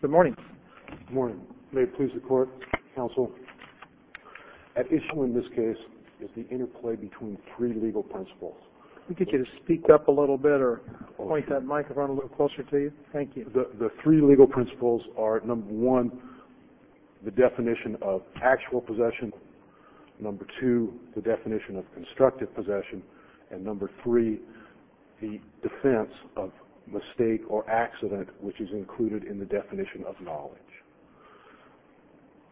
Good morning. May it please the court, counsel. At issue in this case is the interplay between three legal principles. Can we get you to speak up a little bit or point that microphone a little closer to you? Thank you. The three legal principles are, number one, the definition of actual possession, number two, the definition of constructive possession, and number three, the defense of mistake or accident, which is included in the definition of knowledge.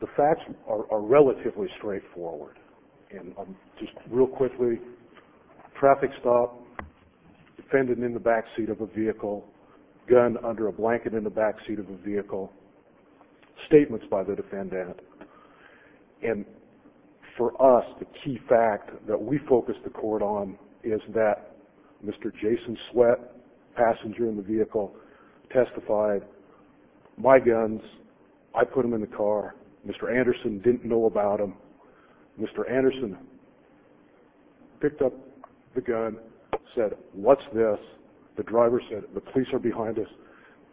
The facts are relatively straightforward. Just real quickly, traffic stop, defendant in the backseat of a vehicle, gun under a blanket in the backseat of a vehicle, statements by the defendant. And for us, the key fact that we focus the court on is that Mr. Jason Sweat, passenger in the vehicle, testified, my guns, I put them in the car. Mr. Anderson didn't know about them. Mr. Anderson picked up the gun, said, what's this? The driver said, the police are behind us,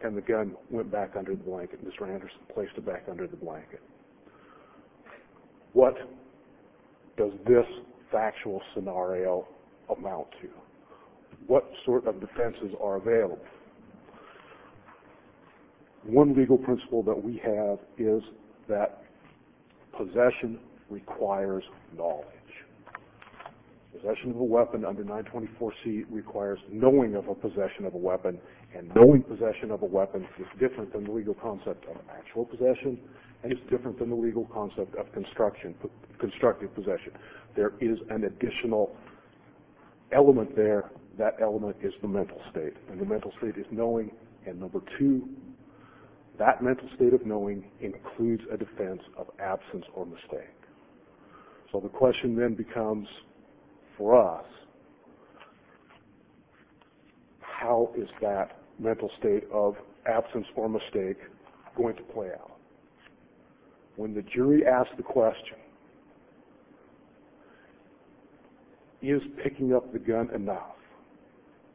and the gun went back under the blanket. Mr. Anderson placed it back under the blanket. What does this factual scenario amount to? What sort of defenses are available? One legal principle that we have is that possession requires knowledge. Possession of a weapon under 924C requires knowing of a possession of a weapon, and knowing of a possession, and it's different than the legal concept of constructive possession. There is an additional element there. That element is the mental state, and the mental state is knowing, and number two, that mental state of knowing includes a defense of absence or mistake. So the question then becomes, for us, how is that mental state of absence or mistake going to play out? When the jury asks the question, is picking up the gun enough?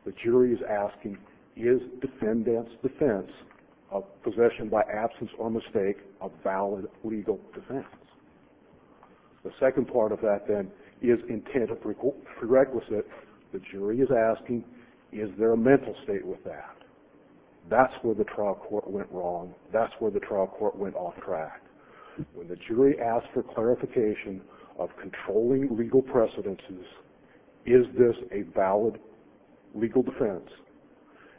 The jury is asking, is defendant's defense of possession by absence or mistake a valid legal defense? The second part of that then is intent of prerequisite. The jury is asking, is there a mental state with that? That's where the trial court went wrong. That's where the trial court went off track. When the jury asks for clarification of controlling legal precedences, is this a valid legal defense?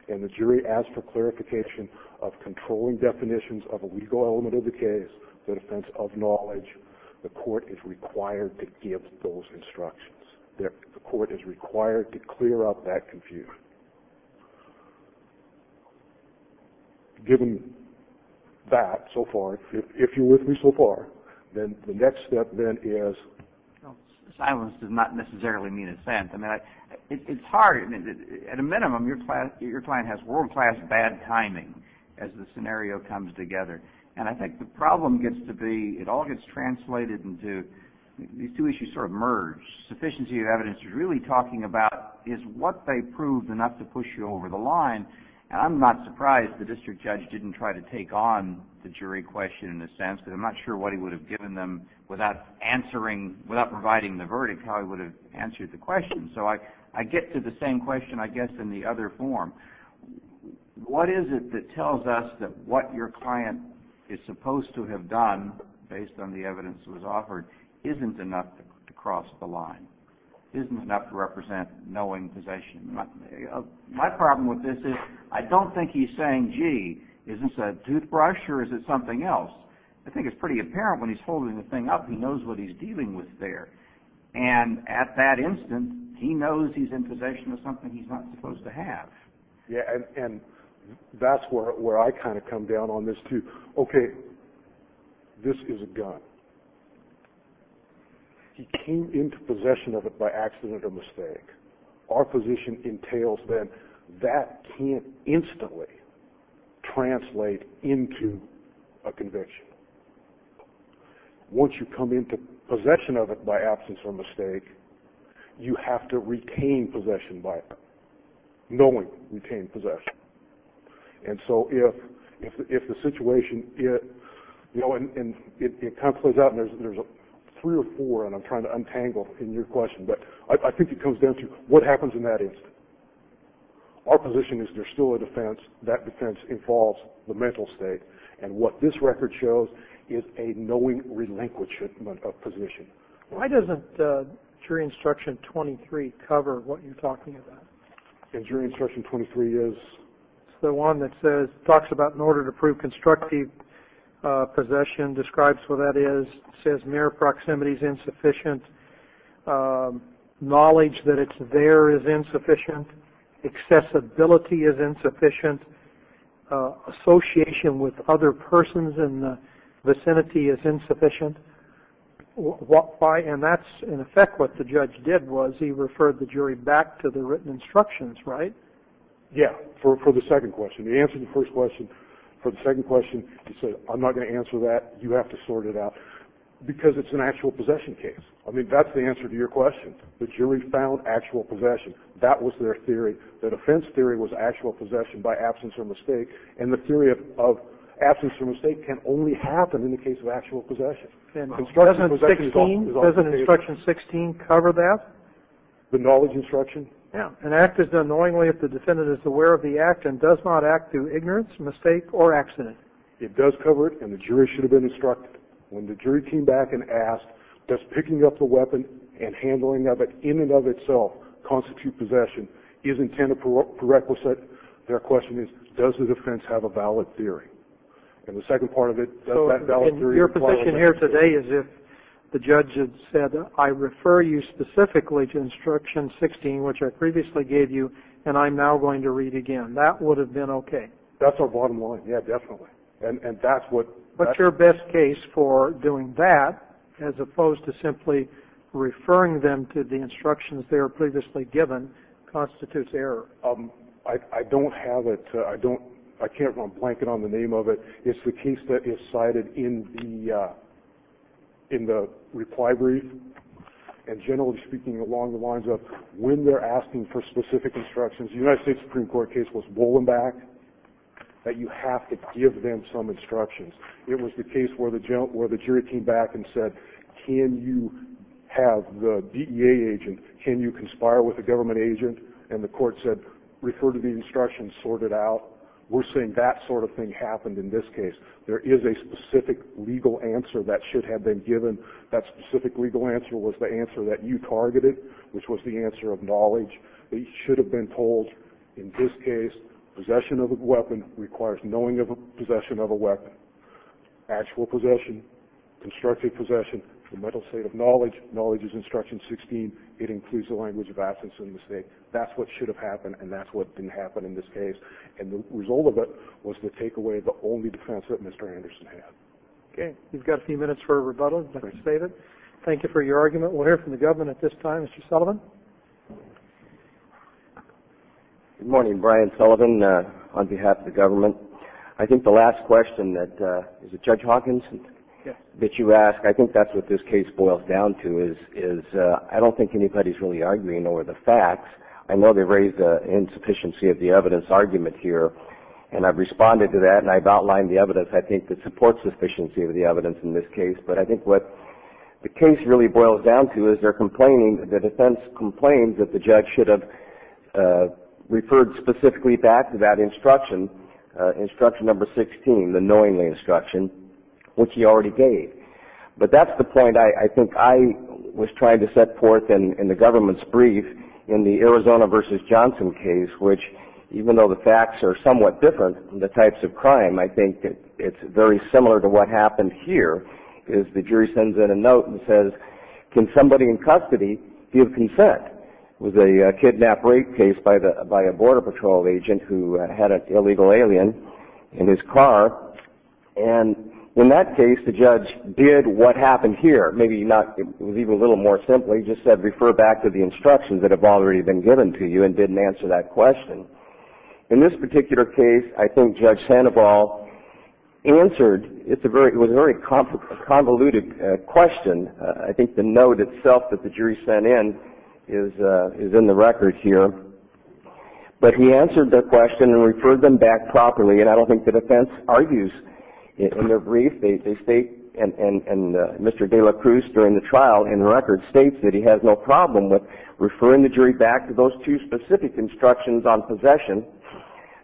And the jury asks for clarification of controlling definitions of a legal element of the case, the defense of knowledge, the court is required to give those instructions. The court is required to clear up that confusion. Given that so far, if you're with me so far, then the next step then is... Silence does not necessarily mean assent. It's hard. At a minimum, your client has world-class bad timing as the scenario comes together, and I think the problem gets to be, it all gets translated into, these two issues sort of merge. Sufficiency of evidence is really talking about, is what they proved enough to push you over the line? And I'm not surprised the district judge didn't try to take on the jury question in a sense, because I'm not sure what he would have given them without providing the verdict, how he would have answered the question. So I get to the same question, I guess, in the other form. What is it that the evidence was offered isn't enough to cross the line? Isn't enough to represent knowing possession? My problem with this is, I don't think he's saying, gee, is this a toothbrush or is it something else? I think it's pretty apparent when he's holding the thing up, he knows what he's dealing with there. And at that instant, he knows he's in possession of something he's not supposed to have. Yeah, and that's where I kind of come down on this too. Okay, this is a gun. He came into possession of it by accident or mistake. Our position entails then, that can't instantly translate into a conviction. Once you come into possession of it by absence or mistake, you have to retain possession by knowing, retain possession. And so if the situation, it kind of plays out and there's three or four, and I'm trying to untangle in your question, but I think it comes down to what happens in that instant. Our position is there's still a defense, that defense involves the mental state. And what this record shows is a knowing relinquishment of possession. Why doesn't jury instruction 23 cover what you're talking about? In jury instruction 23 is? It's the one that says, talks about in order to prove constructive possession, describes what that is, says mere proximity is insufficient, knowledge that it's there is insufficient, accessibility is insufficient, association with other persons in the vicinity is insufficient. And that's in effect what the judge did was he referred the jury back to the written instructions, right? Yeah, for the second question. He answered the first question. For the second question he said, I'm not going to answer that. You have to sort it out. Because it's an actual possession case. I mean, that's the answer to your question. The jury found actual possession. That was their theory. The defense theory was actual possession by absence or mistake. And the theory of absence or mistake can only happen in the case of actual possession. Doesn't instruction 16 cover that? The knowledge instruction? An act is done knowingly if the defendant is aware of the act and does not act through ignorance, mistake, or accident. It does cover it, and the jury should have been instructed. When the jury came back and did not constitute possession, is intended for requisite, their question is, does the defense have a valid theory? And the second part of it, does that valid theory require a second theory? So in your position here today is if the judge had said, I refer you specifically to instruction 16, which I previously gave you, and I'm now going to read again. That would have been okay. That's our bottom line. Yeah, definitely. And that's what... What's your best case for doing that as opposed to simply referring them to the instructions they were previously given constitutes error? I don't have it. I can't run a blanket on the name of it. It's the case that is cited in the reply brief. And generally speaking, along the lines of when they're asking for specific instructions, the United States Supreme Court case was Bolenbach, that you have to give them some instructions. It was the case where the jury came back and said, can you have the DEA agent, can you conspire with a government agent? And the court said, refer to the instructions, sort it out. We're saying that sort of thing happened in this case. There is a specific legal answer that should have been given. That specific legal answer was the answer that you targeted, which was the answer of knowledge. They should have been told, in this case, possession of a weapon requires knowing of a weapon. Actual possession, constructive possession, the mental state of knowledge, knowledge is instruction 16. It includes the language of absence and mistake. That's what should have happened, and that's what didn't happen in this case. And the result of it was to take away the only defense that Mr. Anderson had. Okay. We've got a few minutes for a rebuttal. Thank you for your argument. We'll hear from the government at this time. Mr. Sullivan? Good morning. Brian Sullivan on behalf of the government. I think the last question that, is it Judge Hawkins? Yes. That you asked, I think that's what this case boils down to, is I don't think anybody's really arguing over the facts. I know they raised the insufficiency of the evidence argument here, and I've responded to that, and I've outlined the evidence, I think, that supports sufficiency of the evidence in this case. But I think what the case really boils down to is they're complaining that the defense complained that the judge should have referred specifically back to that instruction, instruction number 16, the knowingly instruction, which he already gave. But that's the point I think I was trying to set forth in the government's brief in the Arizona v. Johnson case, which even though the facts are somewhat different in the types of crime, I think it's very similar to what happened here, is the jury sends in a note and says, can somebody in custody give consent? It was a kidnap-break case by a border patrol agent who had an illegal alien in his car, and in that case the judge did what happened here. Maybe not, it was even a little more simple, he just said refer back to the instructions that have already been given to you and didn't answer that question. In this particular case, I think Judge Sandoval answered, it was a very convoluted question. I think the note itself that the jury sent in is in the record here. But he answered their question and referred them back properly, and I don't think the defense argues in their brief. They state, and Mr. De La Cruz during the trial in the record states that he has no problem with referring the jury back to those two specific instructions on possession,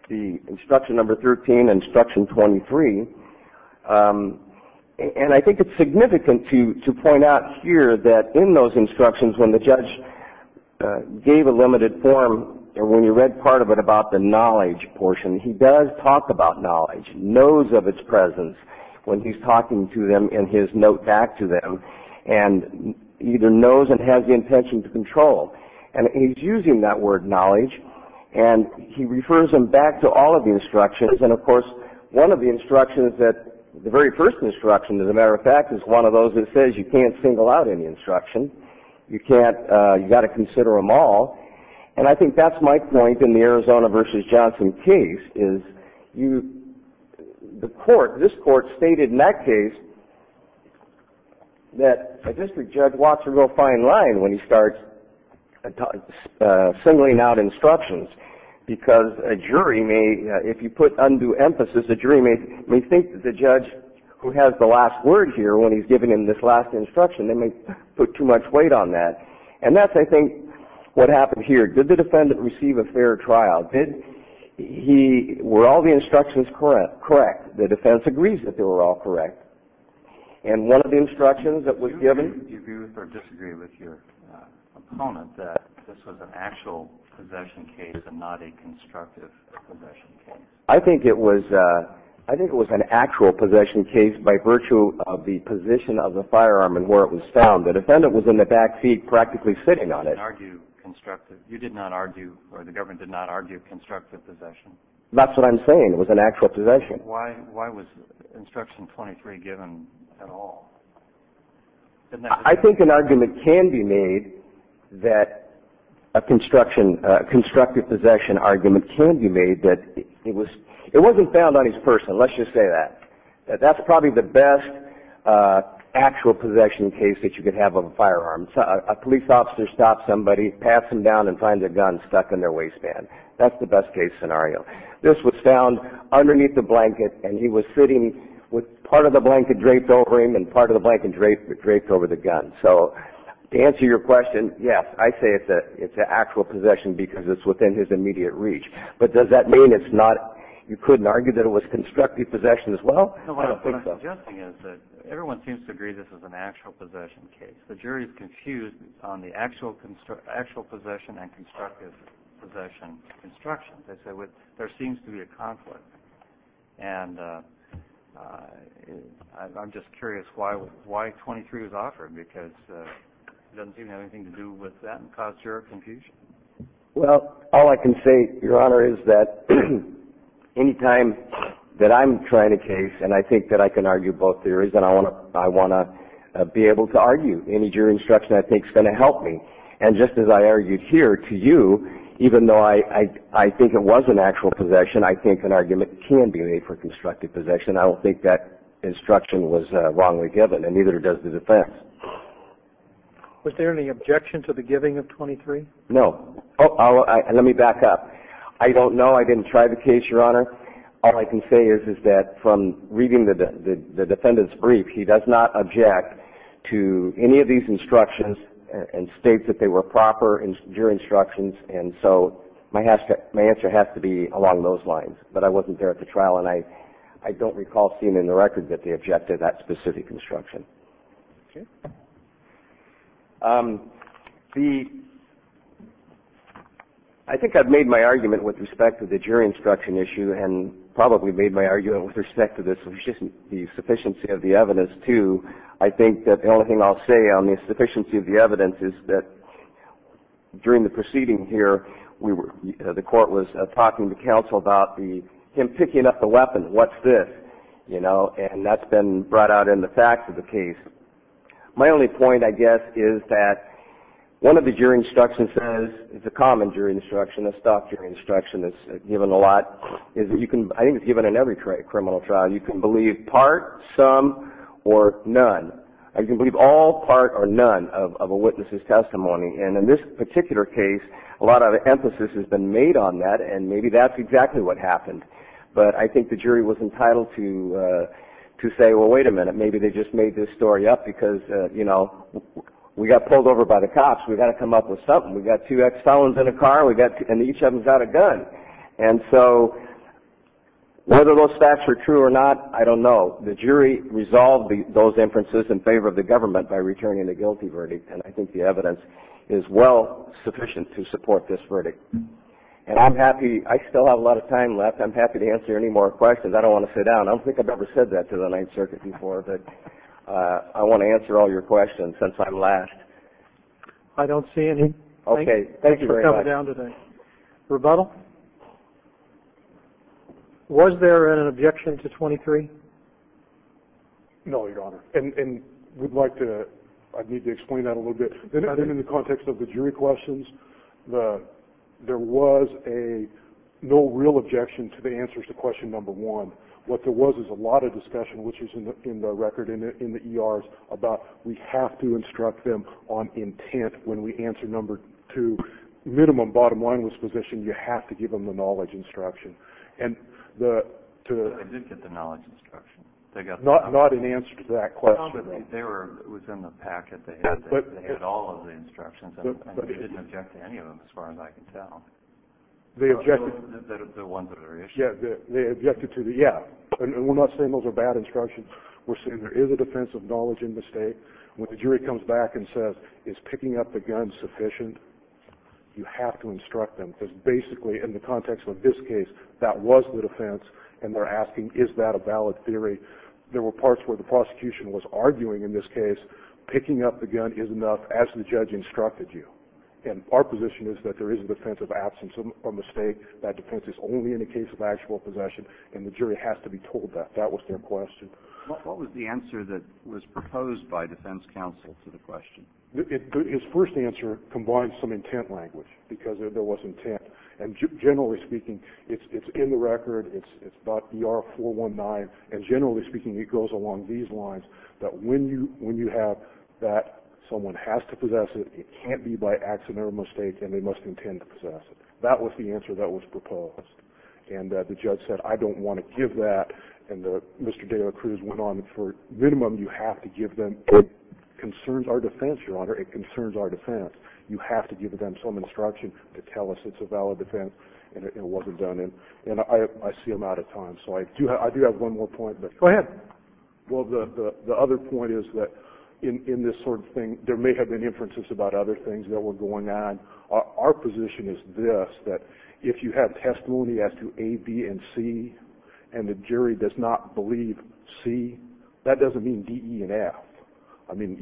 the instruction number 13 and instruction 23. I think it's significant to point out here that in those instructions when the judge gave a limited form, or when you read part of it about the knowledge portion, he does talk about knowledge, knows of its presence when he's talking to them in his note back to them, and either knows and has the intention to control. He's using that word knowledge and he refers them back to all of the instructions. Of course, one of the instructions, the very first instruction as a matter of fact, is one of those that says you can't single out any instruction. You've got to consider them all. I think that's my point in the Arizona v. Johnson case. This court stated in that case that a district judge walks a real fine line when he starts singling out instructions because a jury may, if you put undue emphasis, the jury may think that the judge who has the last word here when he's giving him this last instruction, they may put too much weight on that. That's, I think, what happened here. Did the defendant receive a fair tryout? Were all the instructions correct? Correct. The defense agrees that they were all correct. One of the instructions that was given... It was an actual possession case and not a constructive possession case. I think it was an actual possession case by virtue of the position of the firearm and where it was found. The defendant was in the back seat practically sitting on it. You did not argue, or the government did not argue, constructive possession? That's what I'm saying. It was an actual possession. Why was instruction 23 given at all? I think an argument can be made that a constructive possession argument can be made that... It wasn't found on his person, let's just say that. That's probably the best actual possession case that you could have of a firearm. A police officer stops somebody, pats them down, and finds a gun stuck in their waistband. That's the best case scenario. This was found underneath the blanket and he was sitting with part of the blanket draped over him and part of the blanket draped over the gun. To answer your question, yes, I say it's an actual possession because it's within his immediate reach. Does that mean you couldn't argue that it was constructive possession as well? What I'm suggesting is that everyone seems to agree this is an actual possession case. The jury is confused on the actual possession and constructive possession instructions. There seems to be a conflict. I'm just curious why 23 was offered because it doesn't seem to have anything to do with that and cause your confusion. All I can say, Your Honor, is that any time that I'm trying a case and I think that I can argue both theories, then I want to be able to argue. Any jury instruction I think is going to help me. Just as I argued here to you, even though I think it was an actual possession, I think an argument can be made for constructive possession. I don't think that instruction was wrongly given and neither does the defense. Was there any objection to the giving of 23? No. Let me back up. I don't know. I didn't try the case, Your Honor. All I can say is that from reading the defendant's brief, he does not object to any of these instructions and states that they were proper jury instructions. My answer has to be along those lines, but I wasn't there at the trial and I don't recall seeing in the record that they objected to that specific instruction. I think I've made my argument with respect to the jury instruction issue and probably made my argument with respect to the sufficiency of the evidence, too. I think that the only thing I'll say on the sufficiency of the evidence is that during the proceeding here, the court was talking to counsel about him picking up the weapon. What's this? That's been brought out in the facts of the case. My only point, I guess, is that one of the jury instructions says, it's a common jury instruction, a stock jury instruction that's given a lot. I think it's given in every criminal trial. You can believe part, some, or none. You can believe all, part, or none of a witness's testimony. And in this particular case, a lot of emphasis has been made on that and maybe that's exactly what happened. But I think the jury was entitled to say, well, wait a minute, maybe they just made this story up because, you know, we got pulled over by the cops. We got to come up with something. We got two ex-felons in a car and each of them's got a gun. And so, whether those facts are true or not, I don't know. The jury resolved those inferences in favor of the government by returning the guilty verdict. And I think the evidence is well sufficient to support this verdict. And I'm happy, I still have a lot of time left. I'm happy to answer any more questions. I don't want to sit down. I don't think I've ever said that to the Ninth Circuit before, but I want to answer all your questions since I'm last. I don't see any. Okay. Thank you very much. Thanks for coming down today. Rebuttal? Was there an objection to 23? No, Your Honor. And we'd like to, I'd need to explain that a little bit. In the context of the jury questions, there was no real objection to the answers to question number one. What there was is a lot of discussion, which is in the record in the ERs, we have to instruct them on intent when we answer number two. Minimum bottom line was position, you have to give them the knowledge instruction. They did get the knowledge instruction. Not in answer to that question. They were within the packet. They had all of the instructions. I didn't object to any of them as far as I can tell. The ones that are issued? Yeah. And we're not saying those are bad instructions. We're saying there is a defense of knowledge and mistake. When the jury comes back and says, is picking up the gun sufficient? You have to instruct them. Because basically in the context of this case, that was the defense. And they're asking, is that a valid theory? There were parts where the prosecution was arguing in this case, picking up the gun is enough as the judge instructed you. And our position is that there is a defense of absence or mistake. That defense is only in the case of actual possession. And the jury has to be told that. That was their question. What was the answer that was proposed by defense counsel to the question? His first answer combines some intent language. Because there was intent. And generally speaking, it's in the record. It's about DR-419. And generally speaking, it goes along these lines. That when you have that, someone has to possess it. It can't be by accident or mistake. And they must intend to possess it. That was the answer that was proposed. And the judge said, I don't want to give that. And Mr. De La Cruz went on, for minimum, you have to give them. It concerns our defense, Your Honor. It concerns our defense. You have to give them some instruction to tell us it's a valid defense. And it wasn't done. And I see I'm out of time. So I do have one more point. Go ahead. Well, the other point is that in this sort of thing, there may have been inferences about other things that were going on. Our position is this, that if you have testimony as to A, B, and C, and the jury does not believe C, that doesn't mean D, E, and F. I mean,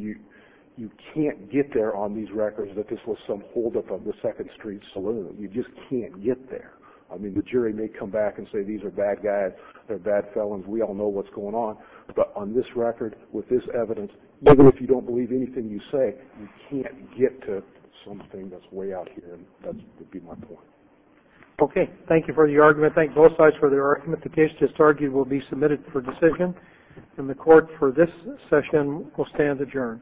you can't get there on these records that this was some holdup of the Second Street Saloon. You just can't get there. I mean, the jury may come back and say these are bad guys. They're bad felons. We all know what's going on. But on this record, with this evidence, even if you don't believe anything you say, you can't get to something that's way out here. And that would be my point. Okay. Thank you for the argument. I want to thank both sides for their argument. The case just argued will be submitted for decision. And the Court, for this session, will stand adjourned.